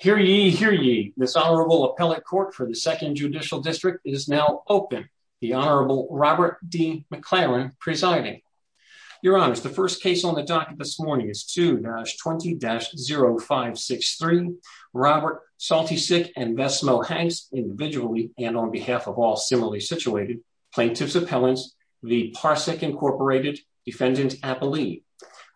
Hear ye, hear ye. This Honorable Appellate Court for the 2nd Judicial District is now open. The Honorable Robert D. McLaren presiding. Your Honors, the first case on the docket this morning is 2-20-0563. Robert Soltysik and Bess Moe Hanks, individually and on behalf of all similarly situated plaintiffs' appellants, the Parsec, Inc. Defendant Appellee.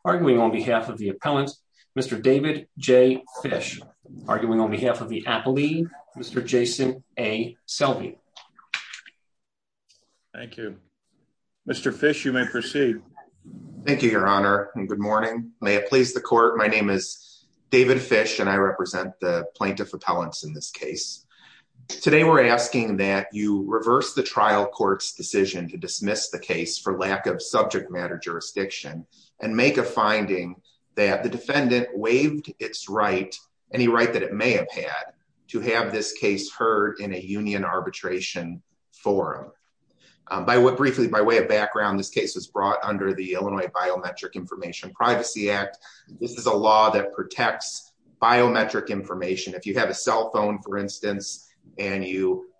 Arguing on behalf of the appellant, Mr. David J. Fish. Arguing on behalf of the appellee, Mr. Jason A. Selby. Thank you. Mr. Fish, you may proceed. Thank you, Your Honor, and good morning. May it please the Court, my name is David Fish and I represent the plaintiff appellants in this case. Today we're asking that you reverse the trial court's decision to dismiss the case for lack of subject matter jurisdiction and make a finding that the defendant waived its right, any right that it may have had, to have this case heard in a union arbitration forum. Briefly, by way of background, this case was brought under the Illinois Biometric Information Privacy Act. This is a law that protects biometric information. If you have a cell phone, for instance, and you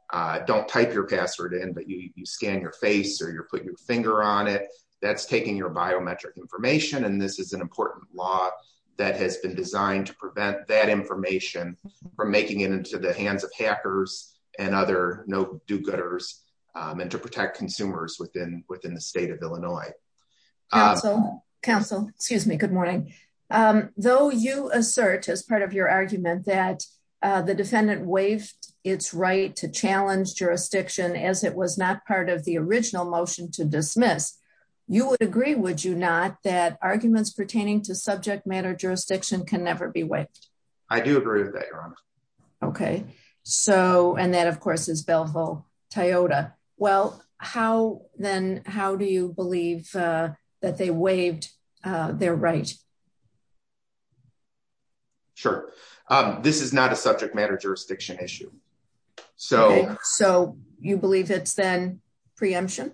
don't type your password in, but you scan your face or you put your finger on it, that's taking your biometric information, and this is an important law that has been designed to prevent that information from making it into the hands of hackers and other no-do-gooders and to protect consumers within the state of Illinois. Counsel, excuse me, good morning. Though you assert as part of your argument that the defendant waived its right to challenge jurisdiction as it was not part of the original motion to dismiss, you would agree, would you not, that arguments pertaining to subject matter jurisdiction can never be waived? I do agree with that, Your Honor. Okay. So, and that, of course, is Bellville-Toyota. Well, how then, how do you believe that they waived their right? Sure. This is not a subject matter jurisdiction issue. Okay. So, you believe it's then preemption?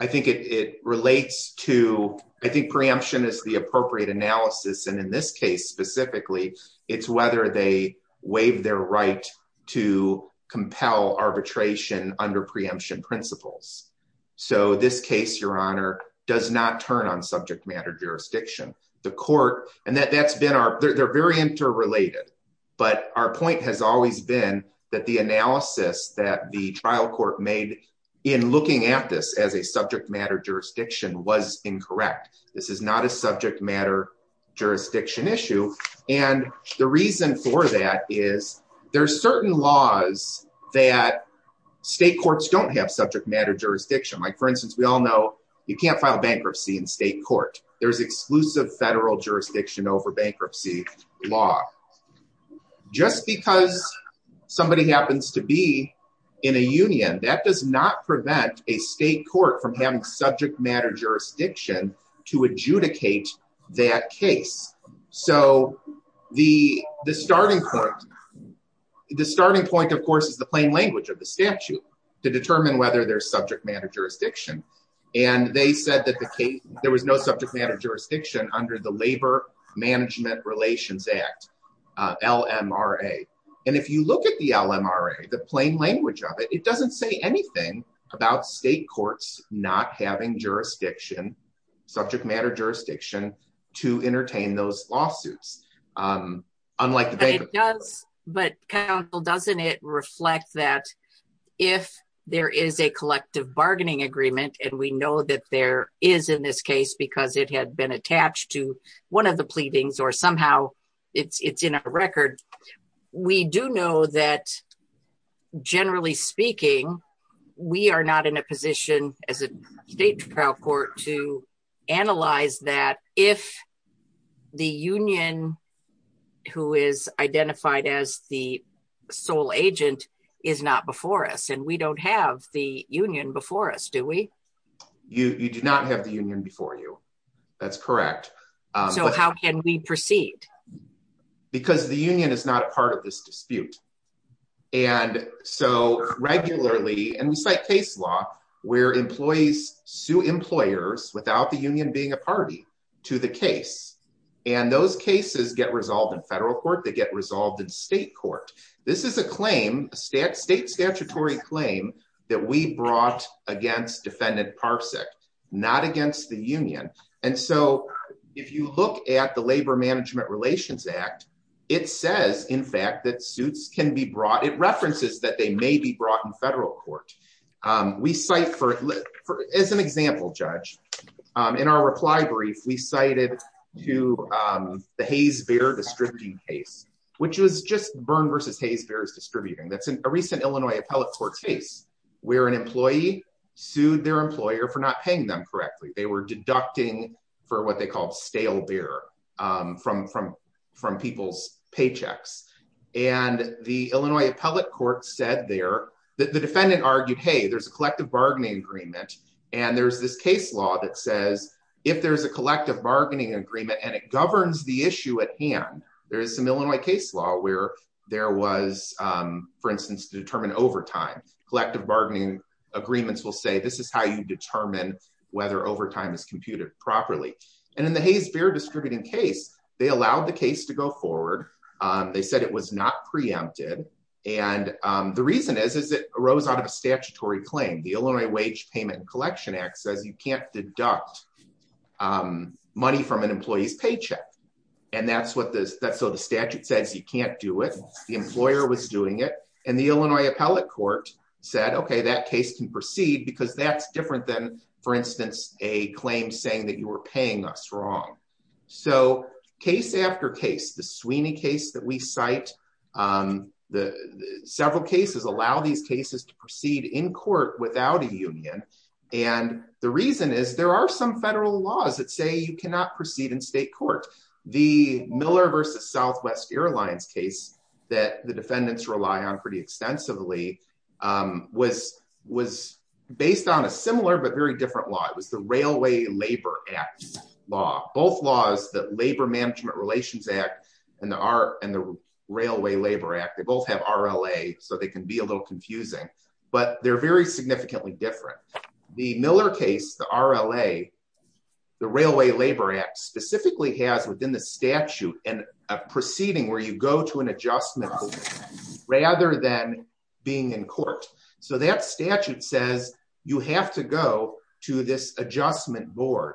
I think it relates to, I think preemption is the appropriate analysis, and in this case specifically, it's whether they waive their right to compel arbitration under preemption principles. So, this case, Your Honor, does not turn on subject matter jurisdiction. The court, and that's been our, they're very interrelated, but our point has always been that the analysis that the trial court made in looking at this as a subject matter jurisdiction was incorrect. This is not a subject matter jurisdiction issue, and the reason for that is there are certain laws that state courts don't have subject matter jurisdiction. Like, for instance, we all know you can't file bankruptcy in state court. There's exclusive federal jurisdiction over bankruptcy law. Again, that does not prevent a state court from having subject matter jurisdiction to adjudicate that case. So, the starting point, of course, is the plain language of the statute to determine whether there's subject matter jurisdiction, and they said that there was no subject matter jurisdiction under the Labor Management Relations Act, LMRA. And if you look at the LMRA, the plain language of it, it doesn't say anything about state courts not having jurisdiction, subject matter jurisdiction, to entertain those lawsuits, unlike the bankruptcy law. It does, but counsel, doesn't it reflect that if there is a collective bargaining agreement, and we know that there is in this case because it had been attached to one of the pleadings, or somehow it's in a record, we do know that, generally speaking, we are not in a position as a state trial court to analyze that if the union who is identified as the sole agent is not before us, and we don't have the union before us, do we? You do not have the union before you. That's correct. So, how can we proceed? Because the union is not a part of this dispute. And so, regularly, and we cite case law, where employees sue employers without the union being a party to the case, and those cases get resolved in federal court, they get resolved in state court. This is a claim, a state statutory claim, that we brought against Defendant Parsek, not against the union. And so, if you look at the Labor Management Relations Act, it says, in fact, that suits can be brought, it references that they may be brought in federal court. We cite, as an example, Judge, in our reply brief, we cited the Hayes-Beer distributing case, which was just Byrne versus Hayes-Beer's distributing. That's a recent Illinois appellate court case, where an employee sued their employer for not paying them correctly. They were deducting for what they called stale beer from people's paychecks. And the Illinois appellate court said there, the defendant argued, hey, there's a collective bargaining agreement, and there's this case law that says, if there's a collective bargaining agreement and it governs the issue at hand, there is some Illinois case law where there was, for instance, a case law that says, if there's a collective bargaining agreement, the case law is to determine overtime. Collective bargaining agreements will say, this is how you determine whether overtime is computed properly. And in the Hayes-Beer distributing case, they allowed the case to go forward. They said it was not preempted. And the reason is, is it arose out of a statutory claim. The Illinois wage payment collection act says you can't deduct money from an employee's paycheck. And that's what the statute says, you can't do it. The employer was doing it and the Illinois appellate court said, okay, that case can proceed because that's different than, for instance, a claim saying that you were paying us wrong. So case after case, the Sweeney case that we cite, several cases allow these cases to proceed in court without a union. And the reason is there are some federal laws that say you cannot proceed in state court. The Miller versus Southwest airlines case that the defendants rely on pretty extensively was, was based on a similar, but very different law. It was the railway labor act law, both laws that labor management relations act and the art and the railway labor act, they both have RLA. So they can be a little confusing, but they're very significantly different. The Miller case, the RLA, the railway labor act specifically has within the statute and a proceeding where you go to an adjustment rather than being in court. So that statute says you have to go to this adjustment board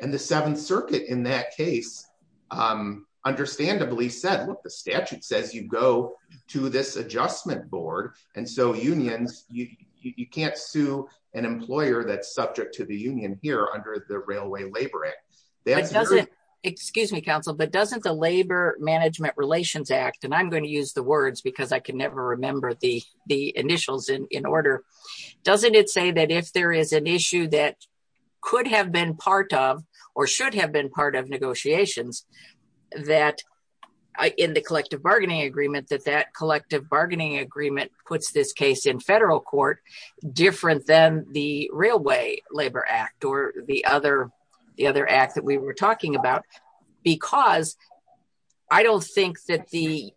and the seventh circuit in that case, understandably said, look, the statute says you go to this adjustment board. And so unions, you can't sue an employer that's subject to the union here under the railway labor act. Excuse me, counsel, but doesn't the labor management relations act. And I'm going to use the words because I can never remember the, the initials in order. Doesn't it say that if there is an issue that could have been part of, or should have been part of negotiations that I, in the collective bargaining agreement, that that collective bargaining agreement puts this case in federal court different than the railway labor act or the other, the other act that we were talking about, because I don't think that the,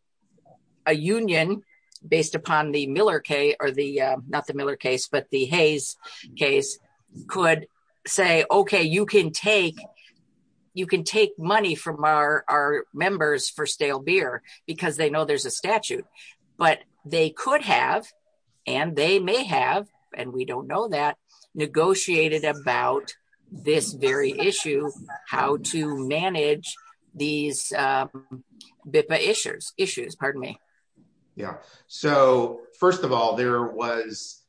a union based upon the Miller K or the, not the Miller case, but the Hayes case could say, okay, you can take, you can take money from our, our members for stale beer because they know there's a statute, but they could have, and they may have, and we don't know that negotiated about this very issue, how to manage these issues. Pardon me. Yeah. So first of all, there was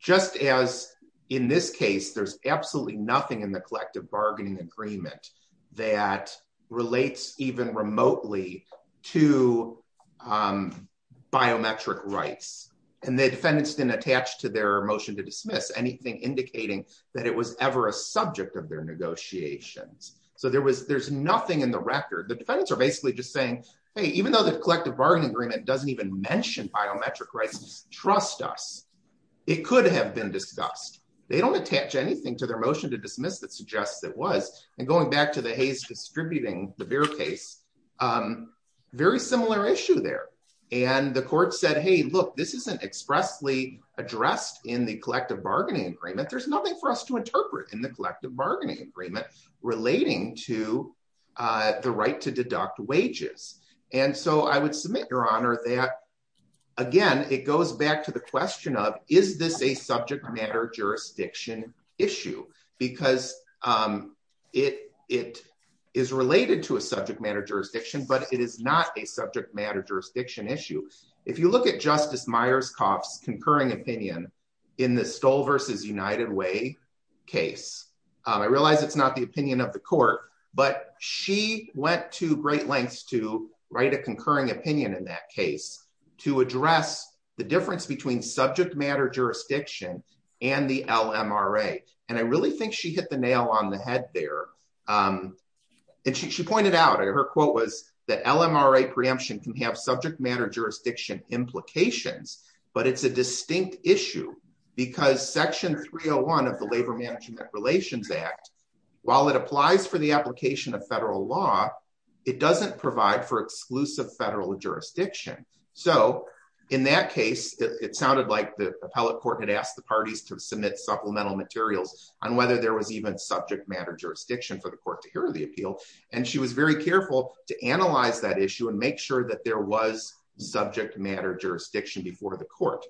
just as in this case, there's absolutely nothing in the collective bargaining agreement that relates even remotely to biometric rights. And the defendants didn't attach to their motion to dismiss anything indicating that it was ever a subject of their negotiations. So there was, there's nothing in the record. The defendants are basically just saying, Hey, even though the collective bargaining agreement doesn't even mention biometric rights, trust us. It could have been discussed. They don't attach anything to their motion to dismiss that suggests that it was. And going back to the Hayes distributing the beer case, very similar issue there. And the court said, Hey, look, this isn't expressly addressed in the collective bargaining agreement. There's nothing for us to interpret in the collective bargaining agreement relating to the right to deduct wages. And so I would submit your honor that again, it goes back to the question of, is this a subject matter jurisdiction issue? Because it, it. Is related to a subject matter jurisdiction, but it is not a subject matter jurisdiction issue. If you look at justice Myers coughs, concurring opinion in the stole versus United way. Case. I realize it's not the opinion of the court, but she went to great lengths to write a concurring opinion in that case. To address the difference between subject matter, Jurisdiction and the LMRA. And I really think she hit the nail on the head there. And she pointed out her quote was that LMRA preemption can have subject matter, jurisdiction implications, but it's a distinct issue. Because section 301 of the labor management relations act. While it applies for the application of federal law. It doesn't provide for exclusive federal jurisdiction. So in that case, it sounded like the appellate court had asked the parties to submit supplemental materials on whether there was even subject matter, jurisdiction for the court to hear the appeal. And she was very careful to analyze that issue and make sure that there was subject matter, jurisdiction before the court.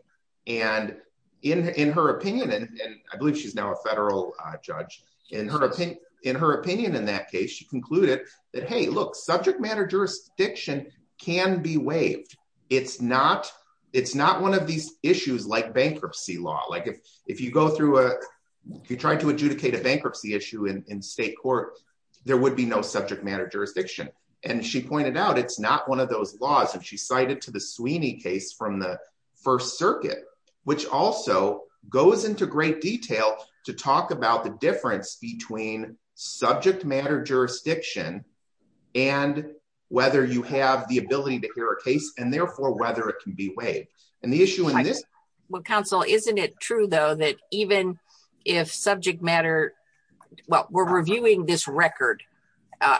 And in, in her opinion, and I believe she's now a federal judge. In her opinion, in her opinion, in that case, she concluded that, Hey, look, subject matter, jurisdiction can be waived. It's not, it's not one of these issues like bankruptcy law. Like if, if you go through a, if you're trying to adjudicate a bankruptcy issue in, in state court, there would be no subject matter, jurisdiction. And she pointed out, it's not one of those laws that she cited to the Sweeney case from the first circuit, which also goes into great detail to talk about the difference between subject matter, jurisdiction and whether you have the ability to hear a case and therefore whether it can be waived and the issue in this. Well, counsel, isn't it true though, that even if subject matter, well, we're reviewing this record.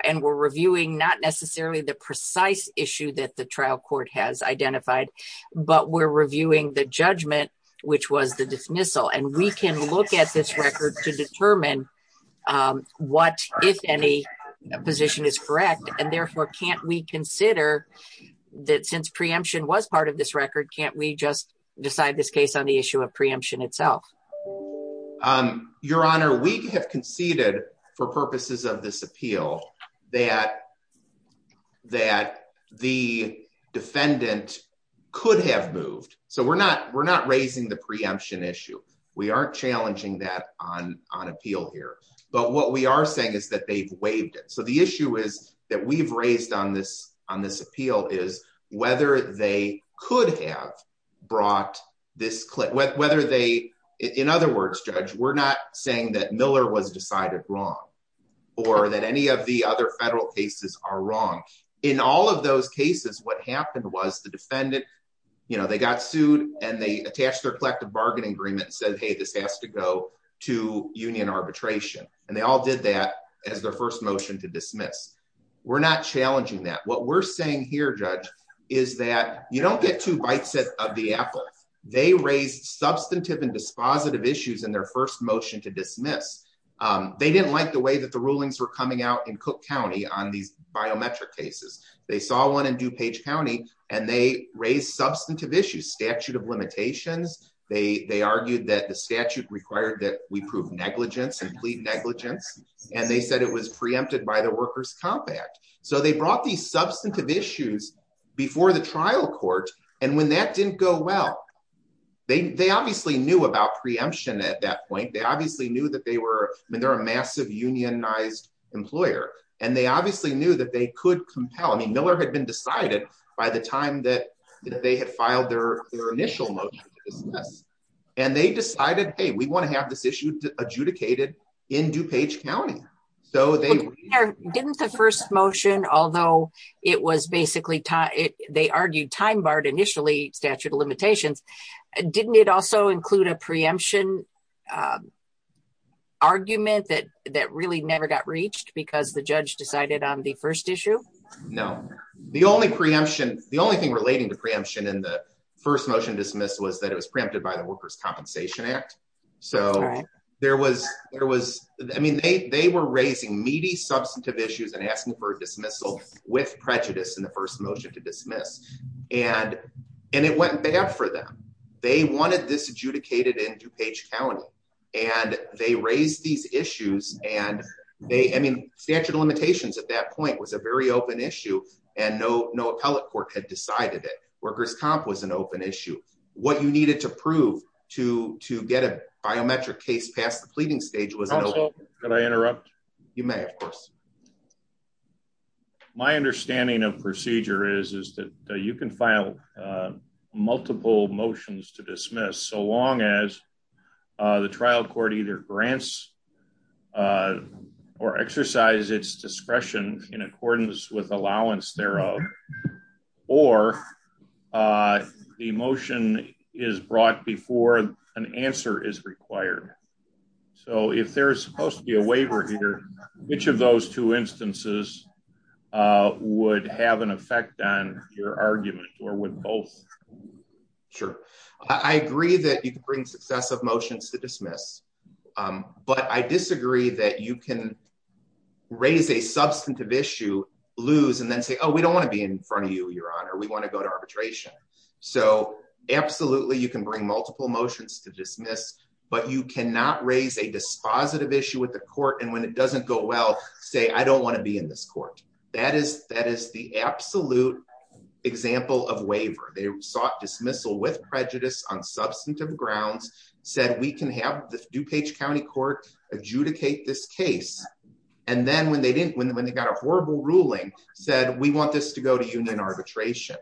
And we're reviewing not necessarily the precise issue that the trial court has identified, but we're reviewing the judgment, which was the dismissal. And we can look at this record to determine what, if any position is correct. And therefore can't we consider that since preemption was part of this record, can't we just decide this case on the issue of preemption itself? Your honor, we have conceded for purposes of this appeal that, that the defendant could have moved. So we're not, we're not raising the preemption issue. We aren't challenging that on, on appeal here, but what we are saying is that they've waived it. So the issue is that we've raised on this, on this appeal is whether they could have brought this clip, whether they, in other words, judge, we're not saying that Miller was decided wrong or that any of the other federal cases are wrong. In all of those cases, what happened was the defendant, you know, they got sued and they attached their collective bargaining agreement and said, Hey, this has to go to union arbitration. And they all did that as their first motion to dismiss. We're not challenging that. What we're saying here judge is that you don't get two bites of the apple. They raised substantive and dispositive issues in their first motion to dismiss. They didn't like the way that the rulings were coming out in cook County on these biometric cases. They saw one in DuPage County and they raised substantive issues, statute of limitations. They argued that the statute required that we prove negligence, complete negligence. And they said it was preempted by the workers compact. So they brought these substantive issues before the trial court. And when that didn't go well, they obviously knew about preemption at that point. They obviously knew that they were, I mean, they're a massive unionized employer and they obviously knew that they could compel. I mean, Miller had been decided by the time that they had filed their initial motion. And they decided, Hey, we want to have this issue adjudicated. In DuPage County. So they didn't the first motion, although it was basically taught it. They argued time-barred initially statute of limitations. Didn't it also include a preemption? Argument that, That really never got reached because the judge decided on the first issue. No, the only preemption, the only thing relating to preemption in the first motion dismissed was that it was preempted by the workers compensation act. So there was, there was, I mean, they, they were raising meaty substantive issues and asking for dismissal with prejudice in the first motion to dismiss. And, and it went bad for them. They wanted this adjudicated in DuPage County. And they raised these issues and they, I mean, statute of limitations at that point was a very open issue and no, no appellate court had decided that workers comp was an open issue. What you needed to prove to, to get a biometric case past the pleading stage was. Can I interrupt? You may of course. My understanding of procedure is, is that you can file. Multiple motions to dismiss. So long as. The trial court either grants. Or exercise its discretion in accordance with allowance thereof. Or. The motion is brought before an answer is required. So if there's supposed to be a waiver here, which of those two instances. Would have an effect on your argument or with both. Sure. I agree that you can bring successive motions to dismiss. But I disagree that you can. Raise a substantive issue. Lose and then say, oh, we don't want to be in front of you, your honor. We want to go to arbitration. So absolutely. You can bring multiple motions to dismiss. But you cannot raise a dispositive issue with the court. And when it doesn't go well, say, I don't want to be in this court. That is, that is the absolute. That is the absolute. Example of waiver. They sought dismissal with prejudice on substantive grounds. Said we can have the new page county court adjudicate this case. And then when they didn't, when, when they got a horrible ruling said we want this to go to union arbitration.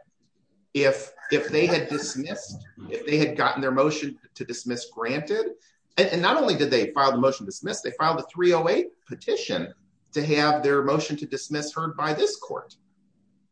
If, if they had dismissed. If they had gotten their motion to dismiss granted. And not only did they file the motion dismissed, they filed a 308 petition to have their motion to dismiss heard by this court.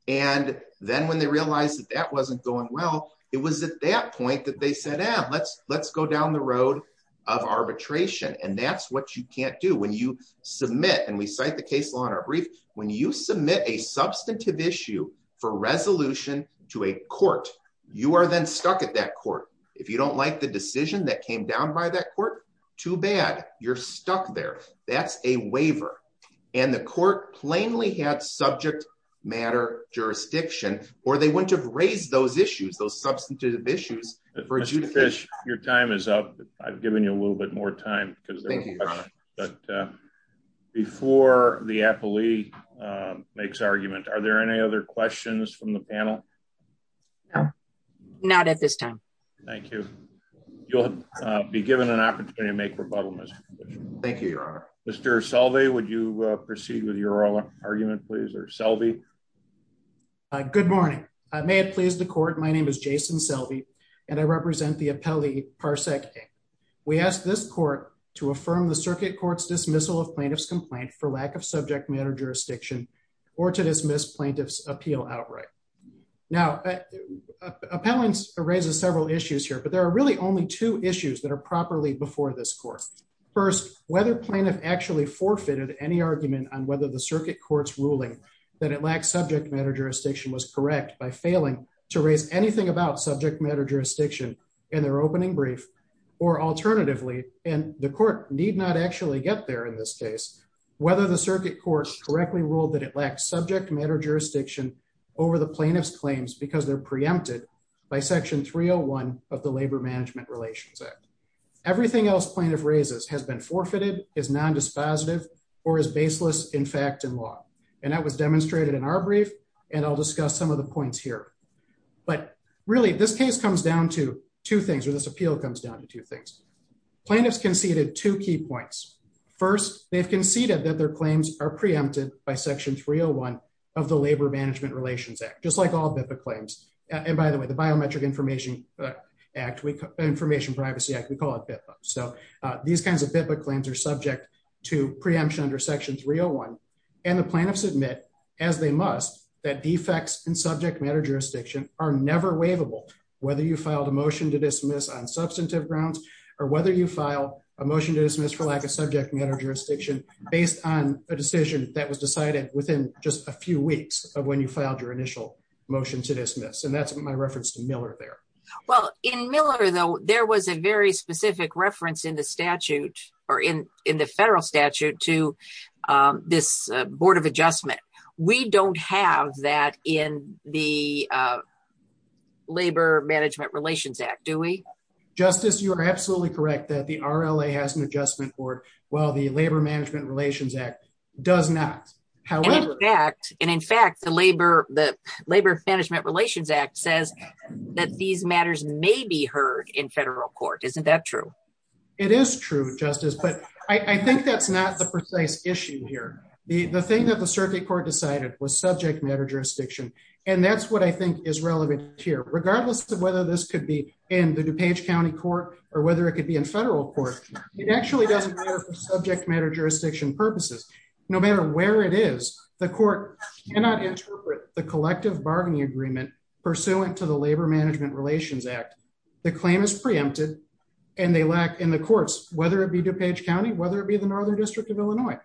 And then when they realized that that wasn't going well, it was at that point that they said, ah, let's, let's go down the road of arbitration. And that's what you can't do when you submit. And we cite the case law in our brief. When you submit a substantive issue for resolution to a court, you are then stuck at that court. If you don't like the decision that came down by that court, too bad. You're stuck there. That's a waiver and the court plainly had subject matter jurisdiction, or they wouldn't have raised those issues. Those substantive issues. Your time is up. I've given you a little bit more time. Thank you. Before the appellee makes argument, are there any other questions from the panel? Not at this time. Thank you. You'll be given an opportunity to make rebuttal. Thank you, your honor. Mr. Selvey, would you proceed with your argument, please? Or Selvey. Good morning. I may have pleased the court. My name is Jason Selvey. And I represent the appellee. We asked this court to affirm the circuit court's dismissal of plaintiff's complaint for lack of subject matter jurisdiction. Or to dismiss plaintiff's appeal outright. Now appellants raises several issues here, but there are really only two issues that are properly before this course. First, whether plaintiff actually forfeited any argument on whether the circuit courts ruling that it lacks subject matter jurisdiction was correct by failing to raise anything about subject matter jurisdiction and their opening brief or alternatively, and the court need not actually get there in this case, whether the circuit courts correctly ruled that it lacks subject matter jurisdiction over the plaintiff's claims, because they're preempted by section 301 of the labor management relations act. Everything else plaintiff raises has been forfeited is nondispositive or is baseless. In fact, in law. And that was demonstrated in our brief and I'll discuss some of the points here, but really this case comes down to two things, or this appeal comes down to two things. Plaintiffs conceded two key points. First they've conceded that their claims are preempted by section 301 of the labor management relations act, just like all BIPOC claims. And by the way, the biometric information act week information privacy act, we call it BIPOC. So these kinds of BIPOC claims are subject to preemption under section 301 and the plaintiffs admit as they must that defects in subject matter jurisdiction are never waivable, whether you filed a motion to dismiss on substantive grounds or whether you file a motion to dismiss for lack of subject matter jurisdiction based on a case of when you filed your initial motion to dismiss. And that's my reference to Miller there. Well in Miller though, there was a very specific reference in the statute or in, in the federal statute to this board of adjustment. We don't have that in the labor management relations act. Do we justice? You are absolutely correct that the RLA has an adjustment board while the labor management relations act does not. And in fact, the labor, the labor management relations act says that these matters may be heard in federal court. Isn't that true? It is true justice, but I think that's not the precise issue here. The thing that the circuit court decided was subject matter jurisdiction. And that's what I think is relevant here, regardless of whether this could be in the DuPage County court or whether it could be in federal court, it actually doesn't matter for subject matter jurisdiction purposes, no matter where it is, the court cannot interpret the collective bargaining agreement pursuant to the labor management relations act. The claim is preempted and they lack in the courts, whether it be DuPage County, whether it be the Northern district of Illinois,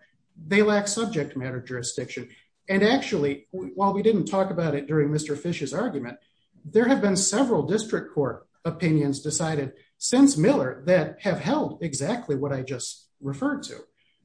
they lack subject matter jurisdiction. And actually while we didn't talk about it during Mr. Fish's argument, there have been several district court opinions decided since Miller that have held exactly what I just referred to,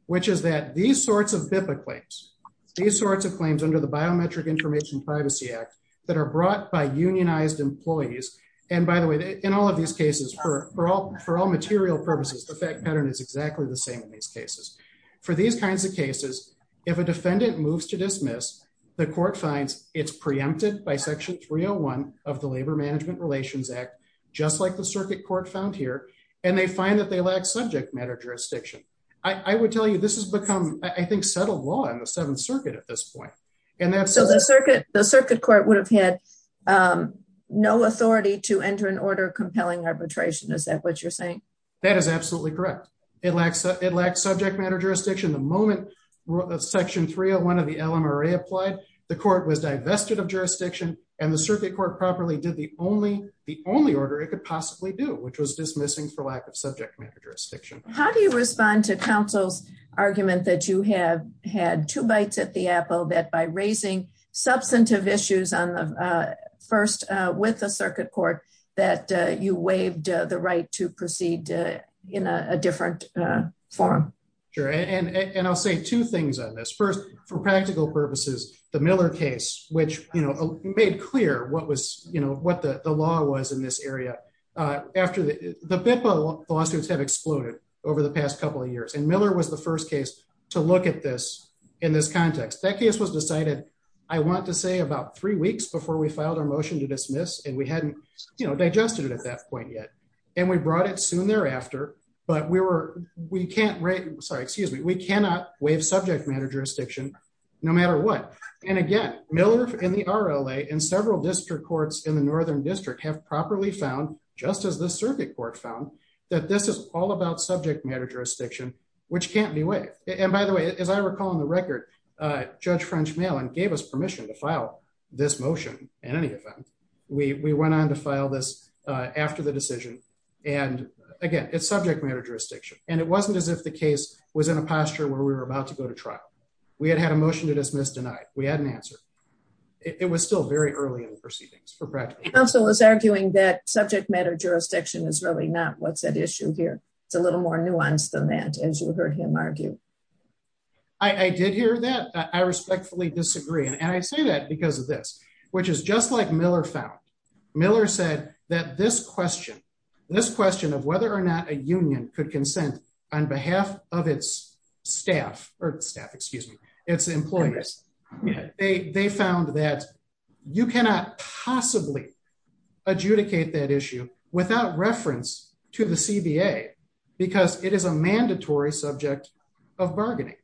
which is that these sorts of BIPA claims, these sorts of claims under the biometric information privacy act that are brought by unionized employees. And by the way, in all of these cases, for all material purposes, the fact pattern is exactly the same in these cases for these kinds of cases. If a defendant moves to dismiss the court finds it's preempted by section 301 of the labor management relations act, just like the circuit court found here. And they find that they lack subject matter jurisdiction. I would tell you this has become, I think settled law in the seventh circuit at this point. So the circuit court would have had no authority to enter an order compelling arbitration. Is that what you're saying? That is absolutely correct. It lacks subject matter jurisdiction. The moment section 301 of the LMRA applied, the court was divested of jurisdiction and the circuit court properly did the only order it could possibly do, which was dismissing for lack of subject matter jurisdiction. How do you respond to counsel's argument that you have had two bites at the apple, that by raising substantive issues on the first, with the circuit court that you waived the right to proceed in a different form. Sure. And I'll say two things on this first for practical purposes, the Miller case, which, you know, made clear what was, you know, what the law was in this area after the, the law suits have exploded over the past couple of years. And Miller was the first case to look at this in this context, that case was decided. I want to say about three weeks before we filed our motion to dismiss. And we hadn't digested it at that point yet. And we brought it soon thereafter, but we were, we can't write, sorry, excuse me. We cannot waive subject matter jurisdiction, no matter what. And again, Miller in the RLA and several district courts in the Northern district have properly found just as the circuit court found that this is all about subject matter jurisdiction, which can't be waived. And by the way, as I recall on the record, judge French Malin gave us permission to file this motion. And any of them, we, we went on to file this after the decision. And again, it's subject matter jurisdiction. And it wasn't as if the case was in a posture where we were about to go to trial. We had had a motion to dismiss, denied. We had an answer. It was still very early in the proceedings for practice. The council is arguing that subject matter jurisdiction is really not what's at issue here. It's a little more nuanced than that. As you heard him argue. I did hear that. I respectfully disagree. And I say that because of this, which is just like Miller found Miller said that this question, this question of whether or not a union could consent on behalf of its staff or staff, excuse me, it's employers. They found that you cannot possibly adjudicate that issue without reference to the CBA because it is a mandatory subject of bargaining.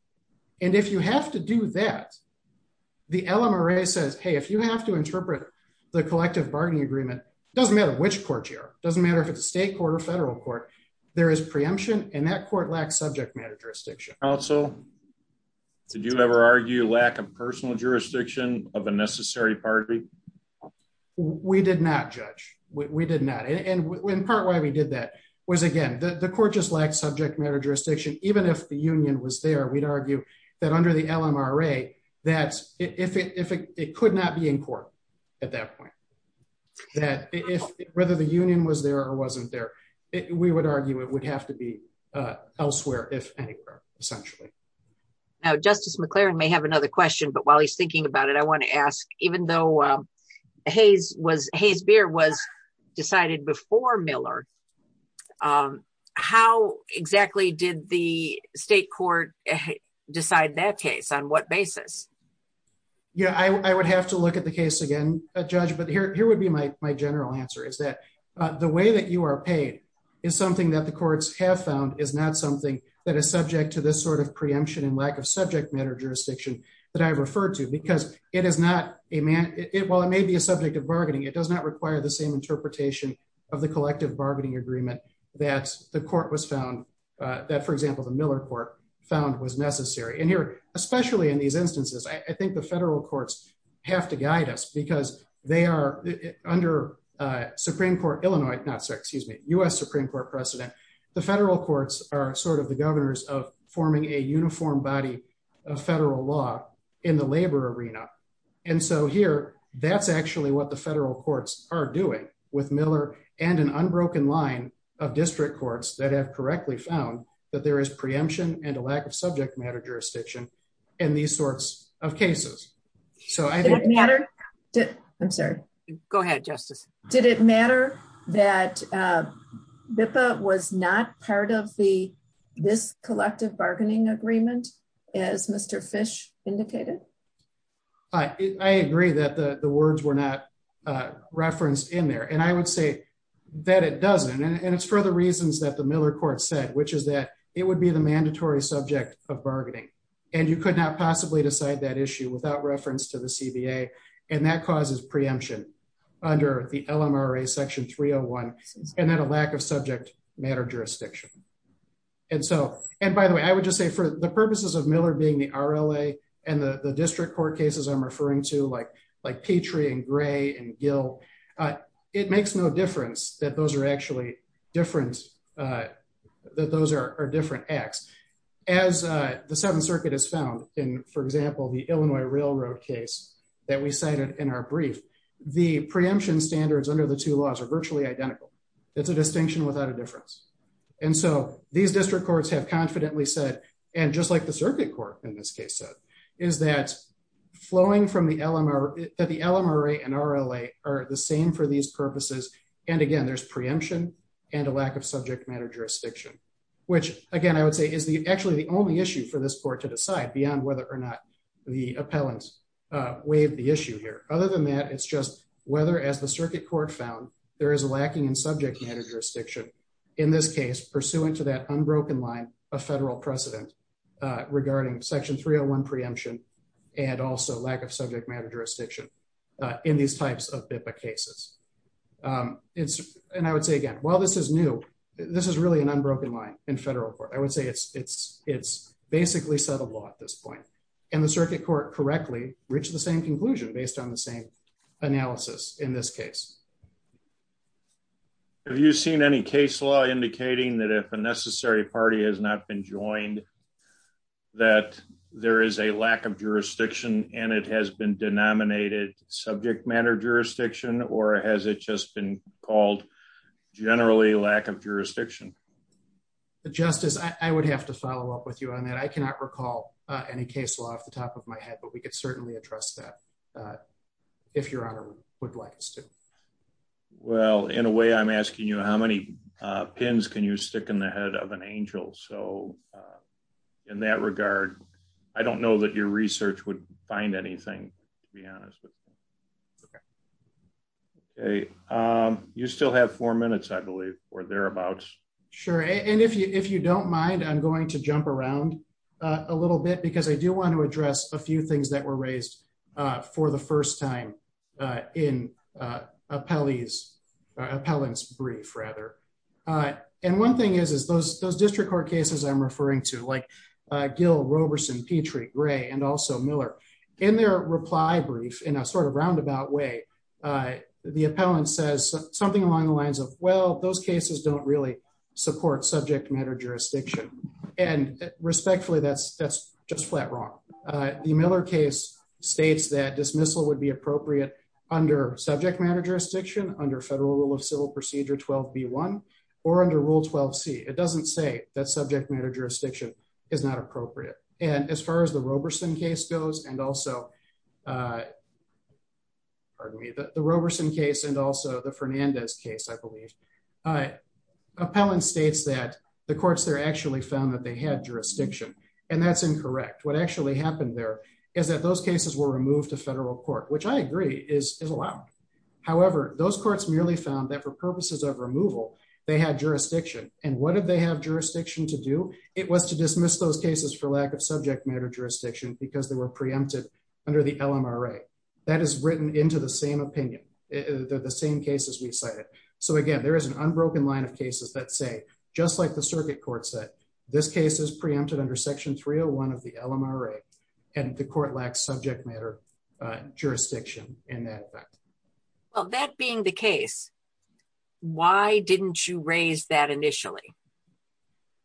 And if you have to do that, the LMRA says, Hey, if you have to interpret the collective bargaining agreement, it doesn't matter which court you are. It doesn't matter if it's a state court or federal court, there is preemption and that court lacks subject matter jurisdiction. Did you ever argue lack of personal jurisdiction of a necessary party? We did not judge. We did not. And in part, why we did that was again, the court just lacked subject matter jurisdiction. Even if the union was there, we'd argue that under the LMRA, that's if it, if it could not be in court at that point, that if whether the union was there or wasn't there, we would argue it would have to be elsewhere. If anywhere, essentially. Now, justice McLaren may have another question, but while he's thinking about it, I want to ask, even though Hayes was, Hayes beer was decided before Miller. How exactly did the state court decide that case on what basis? Yeah, I would have to look at the case again, a judge, but here, here would be my general answer is that the way that you are paid is something that the courts have found is not something that is subject to this sort of preemption and lack of subject matter jurisdiction that I've referred to because it is not a man. It, while it may be a subject of bargaining, it does not require the same interpretation of the collective bargaining agreement that the court was found that for example, the Miller court found was necessary. And here, especially in these instances, I think the federal courts have to guide us because they are under a Supreme court, Illinois, not sorry, excuse me, us Supreme court precedent. The federal courts are sort of the governors of forming a uniform body of federal law in the labor arena. And so here, that's actually what the federal courts are doing with Miller and an unbroken line of district courts that have correctly found that there is preemption and a lack of subject matter jurisdiction and these sorts of cases. So I didn't matter. I'm sorry. Go ahead. Justice. Did it matter that BIPA was not part of the, this collective bargaining agreement is Mr. Fish indicated. I agree that the words were not referenced in there. And I would say that it doesn't. And it's for the reasons that the Miller court said, which is that it would be the mandatory subject of bargaining. And you could not possibly decide that issue without reference to the CBA. And that causes preemption under the LMRA section three Oh one. And then a lack of subject matter jurisdiction. And so, and by the way, I would just say for the purposes of Miller being the RLA and the district court cases, I'm referring to like, like Petrie and gray and Gil, it makes no difference that those are actually different. That those are different acts as the seventh circuit is found in, for example, the Illinois railroad case that we cited in our brief, the preemption standards under the two laws are virtually identical. It's a distinction without a difference. And so these district courts have confidently said, and just like the circuit court in this case said is that flowing from the LMR that the LMRA and RLA are the same for these purposes. And again, there's preemption and a lack of subject matter jurisdiction, which again, I would say is the, actually the only issue for this court to decide beyond whether or not the appellants waived the issue here. Other than that, it's just whether as the circuit court found there is a lacking in subject matter jurisdiction in this case, pursuant to that unbroken line of federal precedent regarding section three Oh one preemption and also lack of subject matter jurisdiction in these types of cases. It's, and I would say again, while this is new, this is really an unbroken line in federal court. I would say it's, it's, it's basically settled law at this point and the circuit court correctly reached the same conclusion based on the same analysis in this case. Have you seen any case law indicating that if a necessary party has not been joined, that there is a lack of jurisdiction and it has been denominated subject matter jurisdiction or has it just been called generally lack of jurisdiction? The justice, I would have to follow up with you on that. I cannot recall any case law off the top of my head, but we could certainly address that if your honor would like us to. Well, in a way I'm asking you how many pins can you stick in the head of an angel? So in that regard, I don't know that your research would find anything to be honest with. Okay. Okay. You still have four minutes, I believe, or thereabouts. Sure. And if you, if you don't mind, I'm going to jump around a little bit because I do want to address a few things that were raised for the first time in appellees appellants brief rather. And one thing is, is those, those district court cases I'm referring to like Gil Roberson, Petrie gray, and also Miller in their reply brief in a sort of roundabout way. The appellant says something along the lines of, well, those cases don't really support subject matter jurisdiction. And respectfully, that's, that's just flat wrong. The Miller case states that dismissal would be appropriate under subject matter jurisdiction under federal rule of civil procedure 12 B one or under rule 12 C it doesn't say that subject matter jurisdiction is not appropriate. And as far as the Roberson case goes and also pardon me, the Roberson case and also the Fernandez case, I believe appellant states that the courts there actually found that they had jurisdiction and that's incorrect. What actually happened there is that those cases were removed to federal court, which I agree is allowed. However, those courts merely found that for purposes of removal, they had jurisdiction and what did they have jurisdiction to do? It was to dismiss those cases for lack of subject matter jurisdiction because they were preempted under the LMRA. That is written into the same opinion. They're the same cases we cited. So again, there is an unbroken line of cases that say, just like the circuit court said, this case is preempted under section 301 of the LMRA and the court lacks subject matter jurisdiction in that. Well, that being the case, why didn't you raise that initially?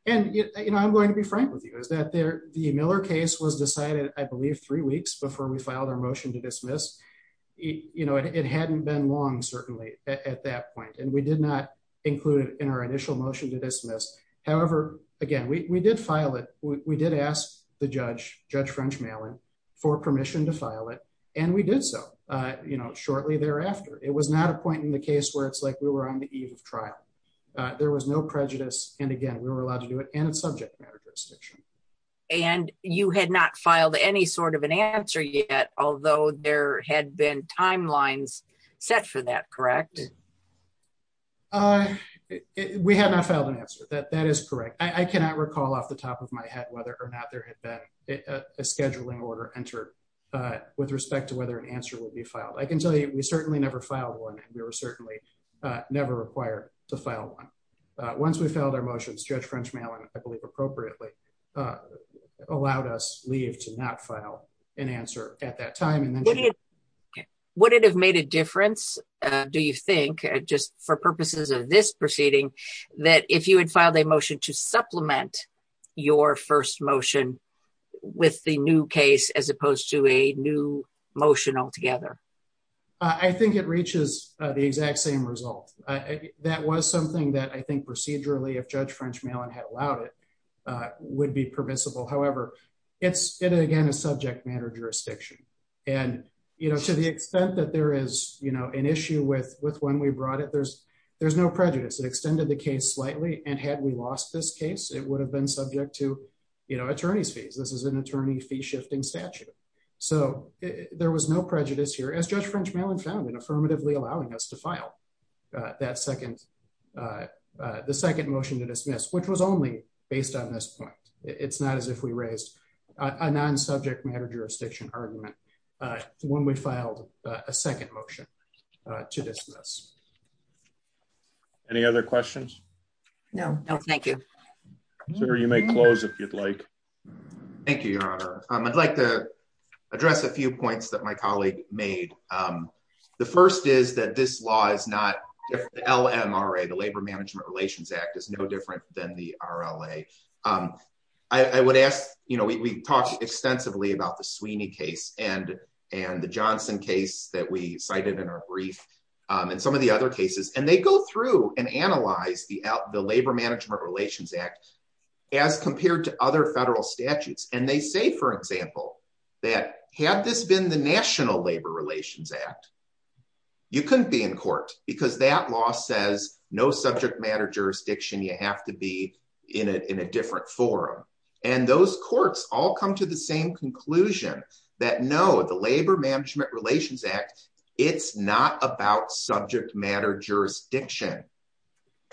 And I'm going to be frank with you is that the Miller case was decided, I believe three weeks before we filed our motion to dismiss, it hadn't been long, certainly at that point. And we did not include it in our initial motion to dismiss. However, again, we did file it. We did ask the judge, judge French Malin for permission to file it. And we did so, you know, shortly thereafter, it was not a point in the case where it's like we were on the eve of trial. There was no prejudice. And again, we were allowed to do it. And it's subject matter jurisdiction. And you had not filed any sort of an answer yet, although there had been timelines set for that, correct? We had not filed an answer that that is correct. I cannot recall off the top of my head, whether or not there had been a, a scheduling order entered with respect to whether an answer will be filed. I can tell you, we certainly never filed one. We were certainly never required to file one. Once we filed our motions, judge French Malin, I believe appropriately, allowed us leave to not file an answer at that time. Would it have made a difference? Do you think just for purposes of this proceeding, that if you had filed a motion to supplement your first motion with the new case, as opposed to a new motion altogether, I think it reaches the exact same result. That was something that I think procedurally if judge French Malin had allowed it would be permissible. However, it's, it, again, a subject matter jurisdiction and, you know, to the extent that there is, you know, an issue with, with when we brought it, there's, there's no prejudice. It extended the case slightly. And had we lost this case, it would have been subject to, you know, attorneys fees. This is an attorney fee shifting statute. So there was no prejudice here as judge French Malin found in affirmatively allowing us to file that second the second motion to dismiss, which was only based on this point. It's not as if we raised a non-subject matter jurisdiction argument when we filed a second motion to dismiss. Any other questions? No, no. Thank you, sir. You may close if you'd like. Thank you, your honor. I'd like to address a few points that my colleague made. The first is that this law is not L M R a, the labor management relations act is no different than the RLA. I would ask, you know, we talked extensively about the Sweeney case and, and the Johnson case that we cited in our brief and some of the other cases and they go through and analyze the out, as compared to other federal statutes. And they say, for example, that had this been the national labor relations act, you couldn't be in court because that law says no subject matter jurisdiction. You have to be in a, in a different forum. And those courts all come to the same conclusion that no, the labor management relations act, it's not about subject matter jurisdiction.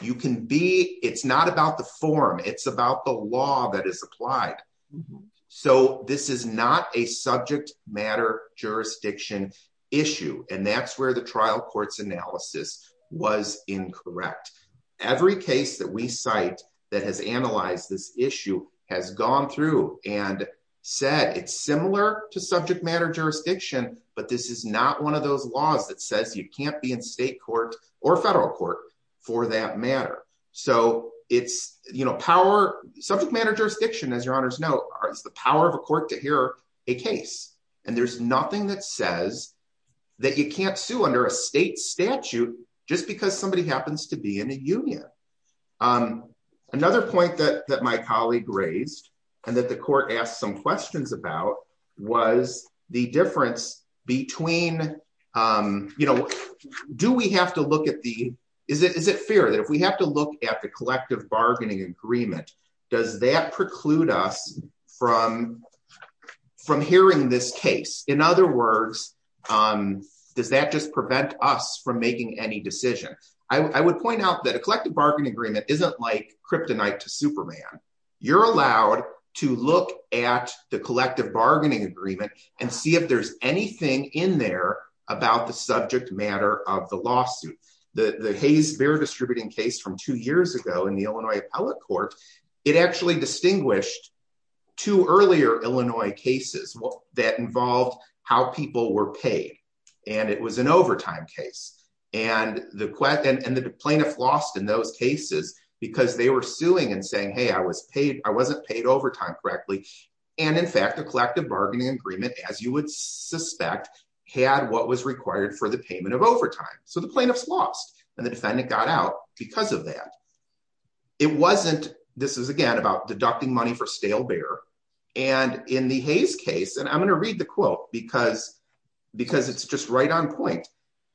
You can be, it's not about the form. It's about the law that is applied. So this is not a subject matter jurisdiction issue. And that's where the trial courts analysis was incorrect. Every case that we cite that has analyzed this issue has gone through and said, it's similar to subject matter jurisdiction, but this is not one of those laws that says you can't be in state court or federal court for that matter. So it's, you know, power subject matter jurisdiction, as your honors know, is the power of a court to hear a case. And there's nothing that says that you can't sue under a state statute, just because somebody happens to be in a union. Another point that, that my colleague raised and that the court asked some questions about was the difference between you know, do we have to look at the, is it, is it fair that if we have to look at the collective bargaining agreement, does that preclude us from, from hearing this case? In other words, does that just prevent us from making any decision? I would point out that a collective bargaining agreement isn't like kryptonite to Superman. You're allowed to look at the collective bargaining agreement and see if there's anything in there about the subject matter of the lawsuit, the Hayes bear distributing case from two years ago in the Illinois appellate court, it actually distinguished two earlier Illinois cases that involved how people were paid. And it was an overtime case. And the question and the plaintiff lost in those cases because they were suing and saying, Hey, I was paid. I wasn't paid overtime correctly. And in fact, the collective bargaining agreement, as you would suspect, had what was required for the payment of overtime. So the plaintiff's lost and the defendant got out because of that. It wasn't, this is again about deducting money for stale bear. And in the Hayes case, and I'm going to read the quote because, because it's just right on point.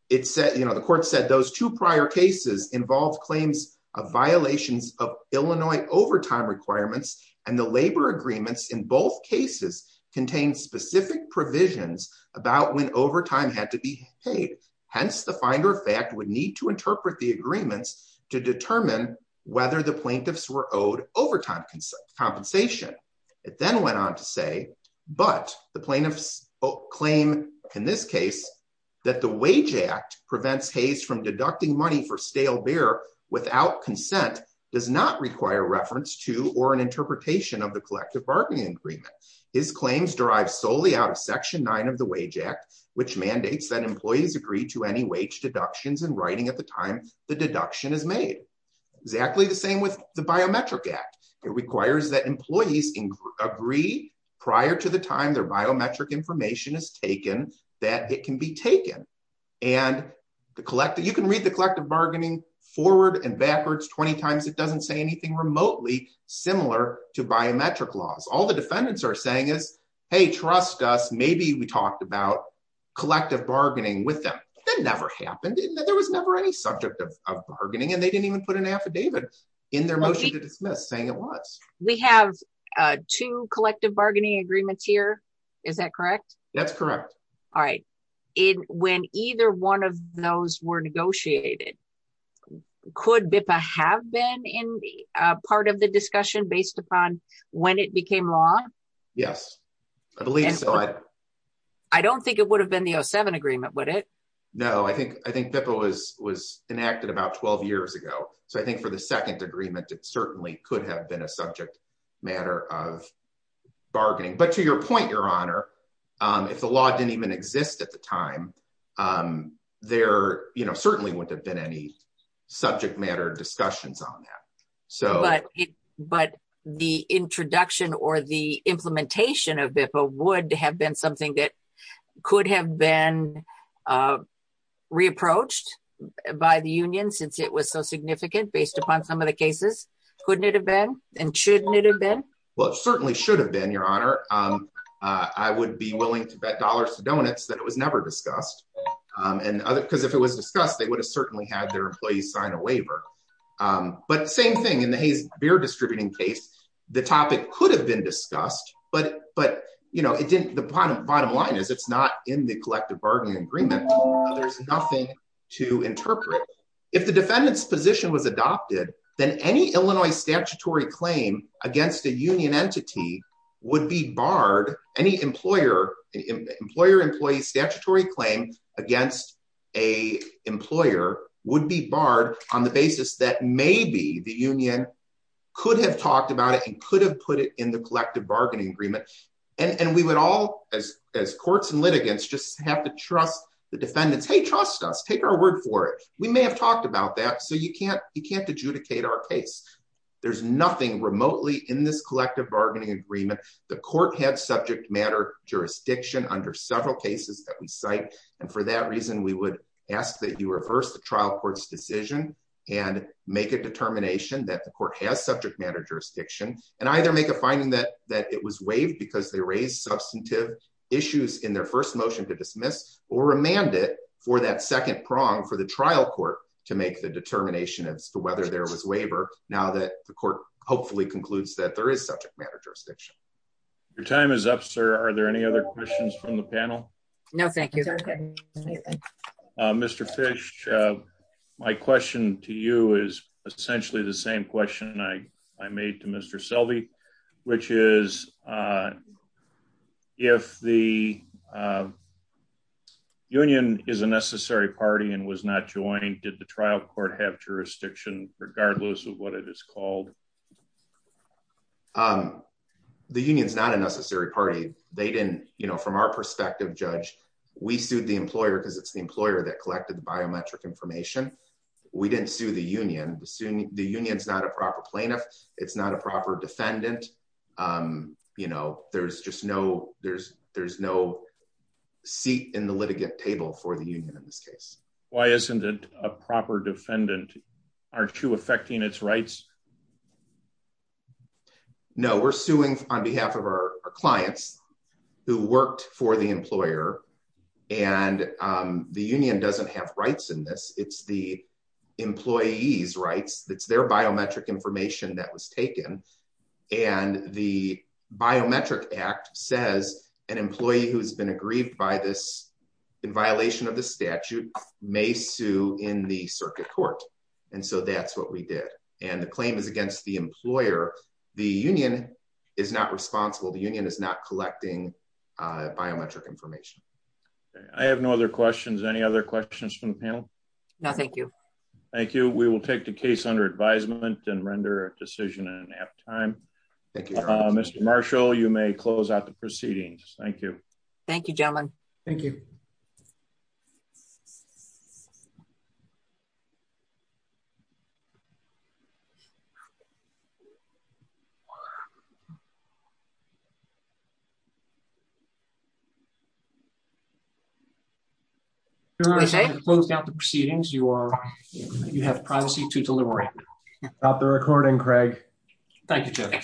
It said, you know, the court said those two prior cases involved claims of violations of Illinois overtime requirements and the labor agreements in both cases contain specific provisions about when overtime had to be paid. Hence the finder of fact would need to interpret the agreements to determine whether the plaintiffs were owed overtime compensation. It then went on to say, but the plaintiffs claim in this case, that the wage act prevents Hayes from deducting money for stale bear without consent does not require reference to, or an interpretation of the collective bargaining agreement. His claims derived solely out of section nine of the wage act, which mandates that employees agree to any wage deductions and writing at the time the deduction is made exactly the same with the biometric act. It requires that employees agree prior to the time their biometric information is taken, that it can be taken. And the collective, you can read the collective bargaining forward and backwards 20 times. It doesn't say anything remotely similar to biometric laws. All the defendants are saying is, Hey, trust us. Maybe we talked about collective bargaining with them. That never happened. There was never any subject of bargaining and they didn't even put an affidavit in their motion to dismiss saying it was. We have two collective bargaining agreements here. Is that correct? That's correct. All right. When either one of those were negotiated, could BIPA have been in part of the discussion based upon when it became law? Yes, I believe so. I don't think it would have been the oh seven agreement, would it? No, I think, I think BIPA was, was enacted about 12 years ago. So I think for the second agreement, it certainly could have been a subject matter of bargaining, but to your point, your honor, if the law didn't even exist at the time, there certainly wouldn't have been any subject matter discussions on that. But the introduction or the implementation of BIPA would have been something that could have been re-approached by the union since it was so significant based upon some of the cases. Couldn't it have been? And shouldn't it have been? Well, it certainly should have been your honor. I would be willing to bet dollars to donuts that it was never discussed. And because if it was discussed, they would have certainly had their employees sign a waiver. But same thing in the Hayes beer distributing case, the topic could have been discussed, but, but you know, it didn't, the bottom bottom line is it's not in the collective bargaining agreement. There's nothing to interpret. If the defendant's position was adopted, then any Illinois statutory claim against a union entity would be barred. Any employer, employer employee statutory claim against a employer would be barred on the basis that maybe the union could have talked about it and could have put it in the collective bargaining agreement. And, and we would all as courts and litigants just have to trust the defendants. Hey, trust us, take our word for it. We may have talked about that. So you can't, you can't adjudicate our case. There's nothing remotely in this collective bargaining agreement. The court had subject matter jurisdiction under several cases that we cite. And for that reason, we would ask that you reverse the trial court's decision and make a determination that the court has subject matter jurisdiction and either make a finding that, that it was waived because they raised substantive issues in their first motion to dismiss or remanded for that second prong for the trial court to make the determination as to whether there was waiver. Now that the court hopefully concludes that there is subject matter jurisdiction. Your time is up, sir. Are there any other questions from the panel? No, thank you. Mr. Fish. My question to you is essentially the same question I, I made to Mr. Selby, which is if the union is a necessary party and was not joined, did the trial court have jurisdiction regardless of what it is called? The union's not a necessary party. They didn't, you know, from our perspective, judge, we sued the employer because it's the employer that collected the biometric information. We didn't sue the union. The union is not a proper plaintiff. It's not a proper defendant. You know, there's just no, there's, there's no seat in the litigant table for the union in this case. Why isn't it a proper defendant? Aren't you affecting its rights? No, we're suing on behalf of our clients who worked for the employer and the union doesn't have rights in this. It's the employee's rights. That's their biometric information that was taken. And the biometric act says an employee who has been aggrieved by this in violation of the statute may sue in the circuit court. And so that's what we did. And the claim is against the employer. The union is not responsible. The union is not collecting a biometric information. I have no other questions. Any other questions from the panel? No, thank you. Thank you. We will take the case under advisement and render a decision in half time. Mr. Marshall, you may close out the proceedings. Thank you. Thank you gentlemen. Thank you. Okay. Closed out the proceedings. You are, you have privacy to delivery. Not the recording, Craig. Thank you.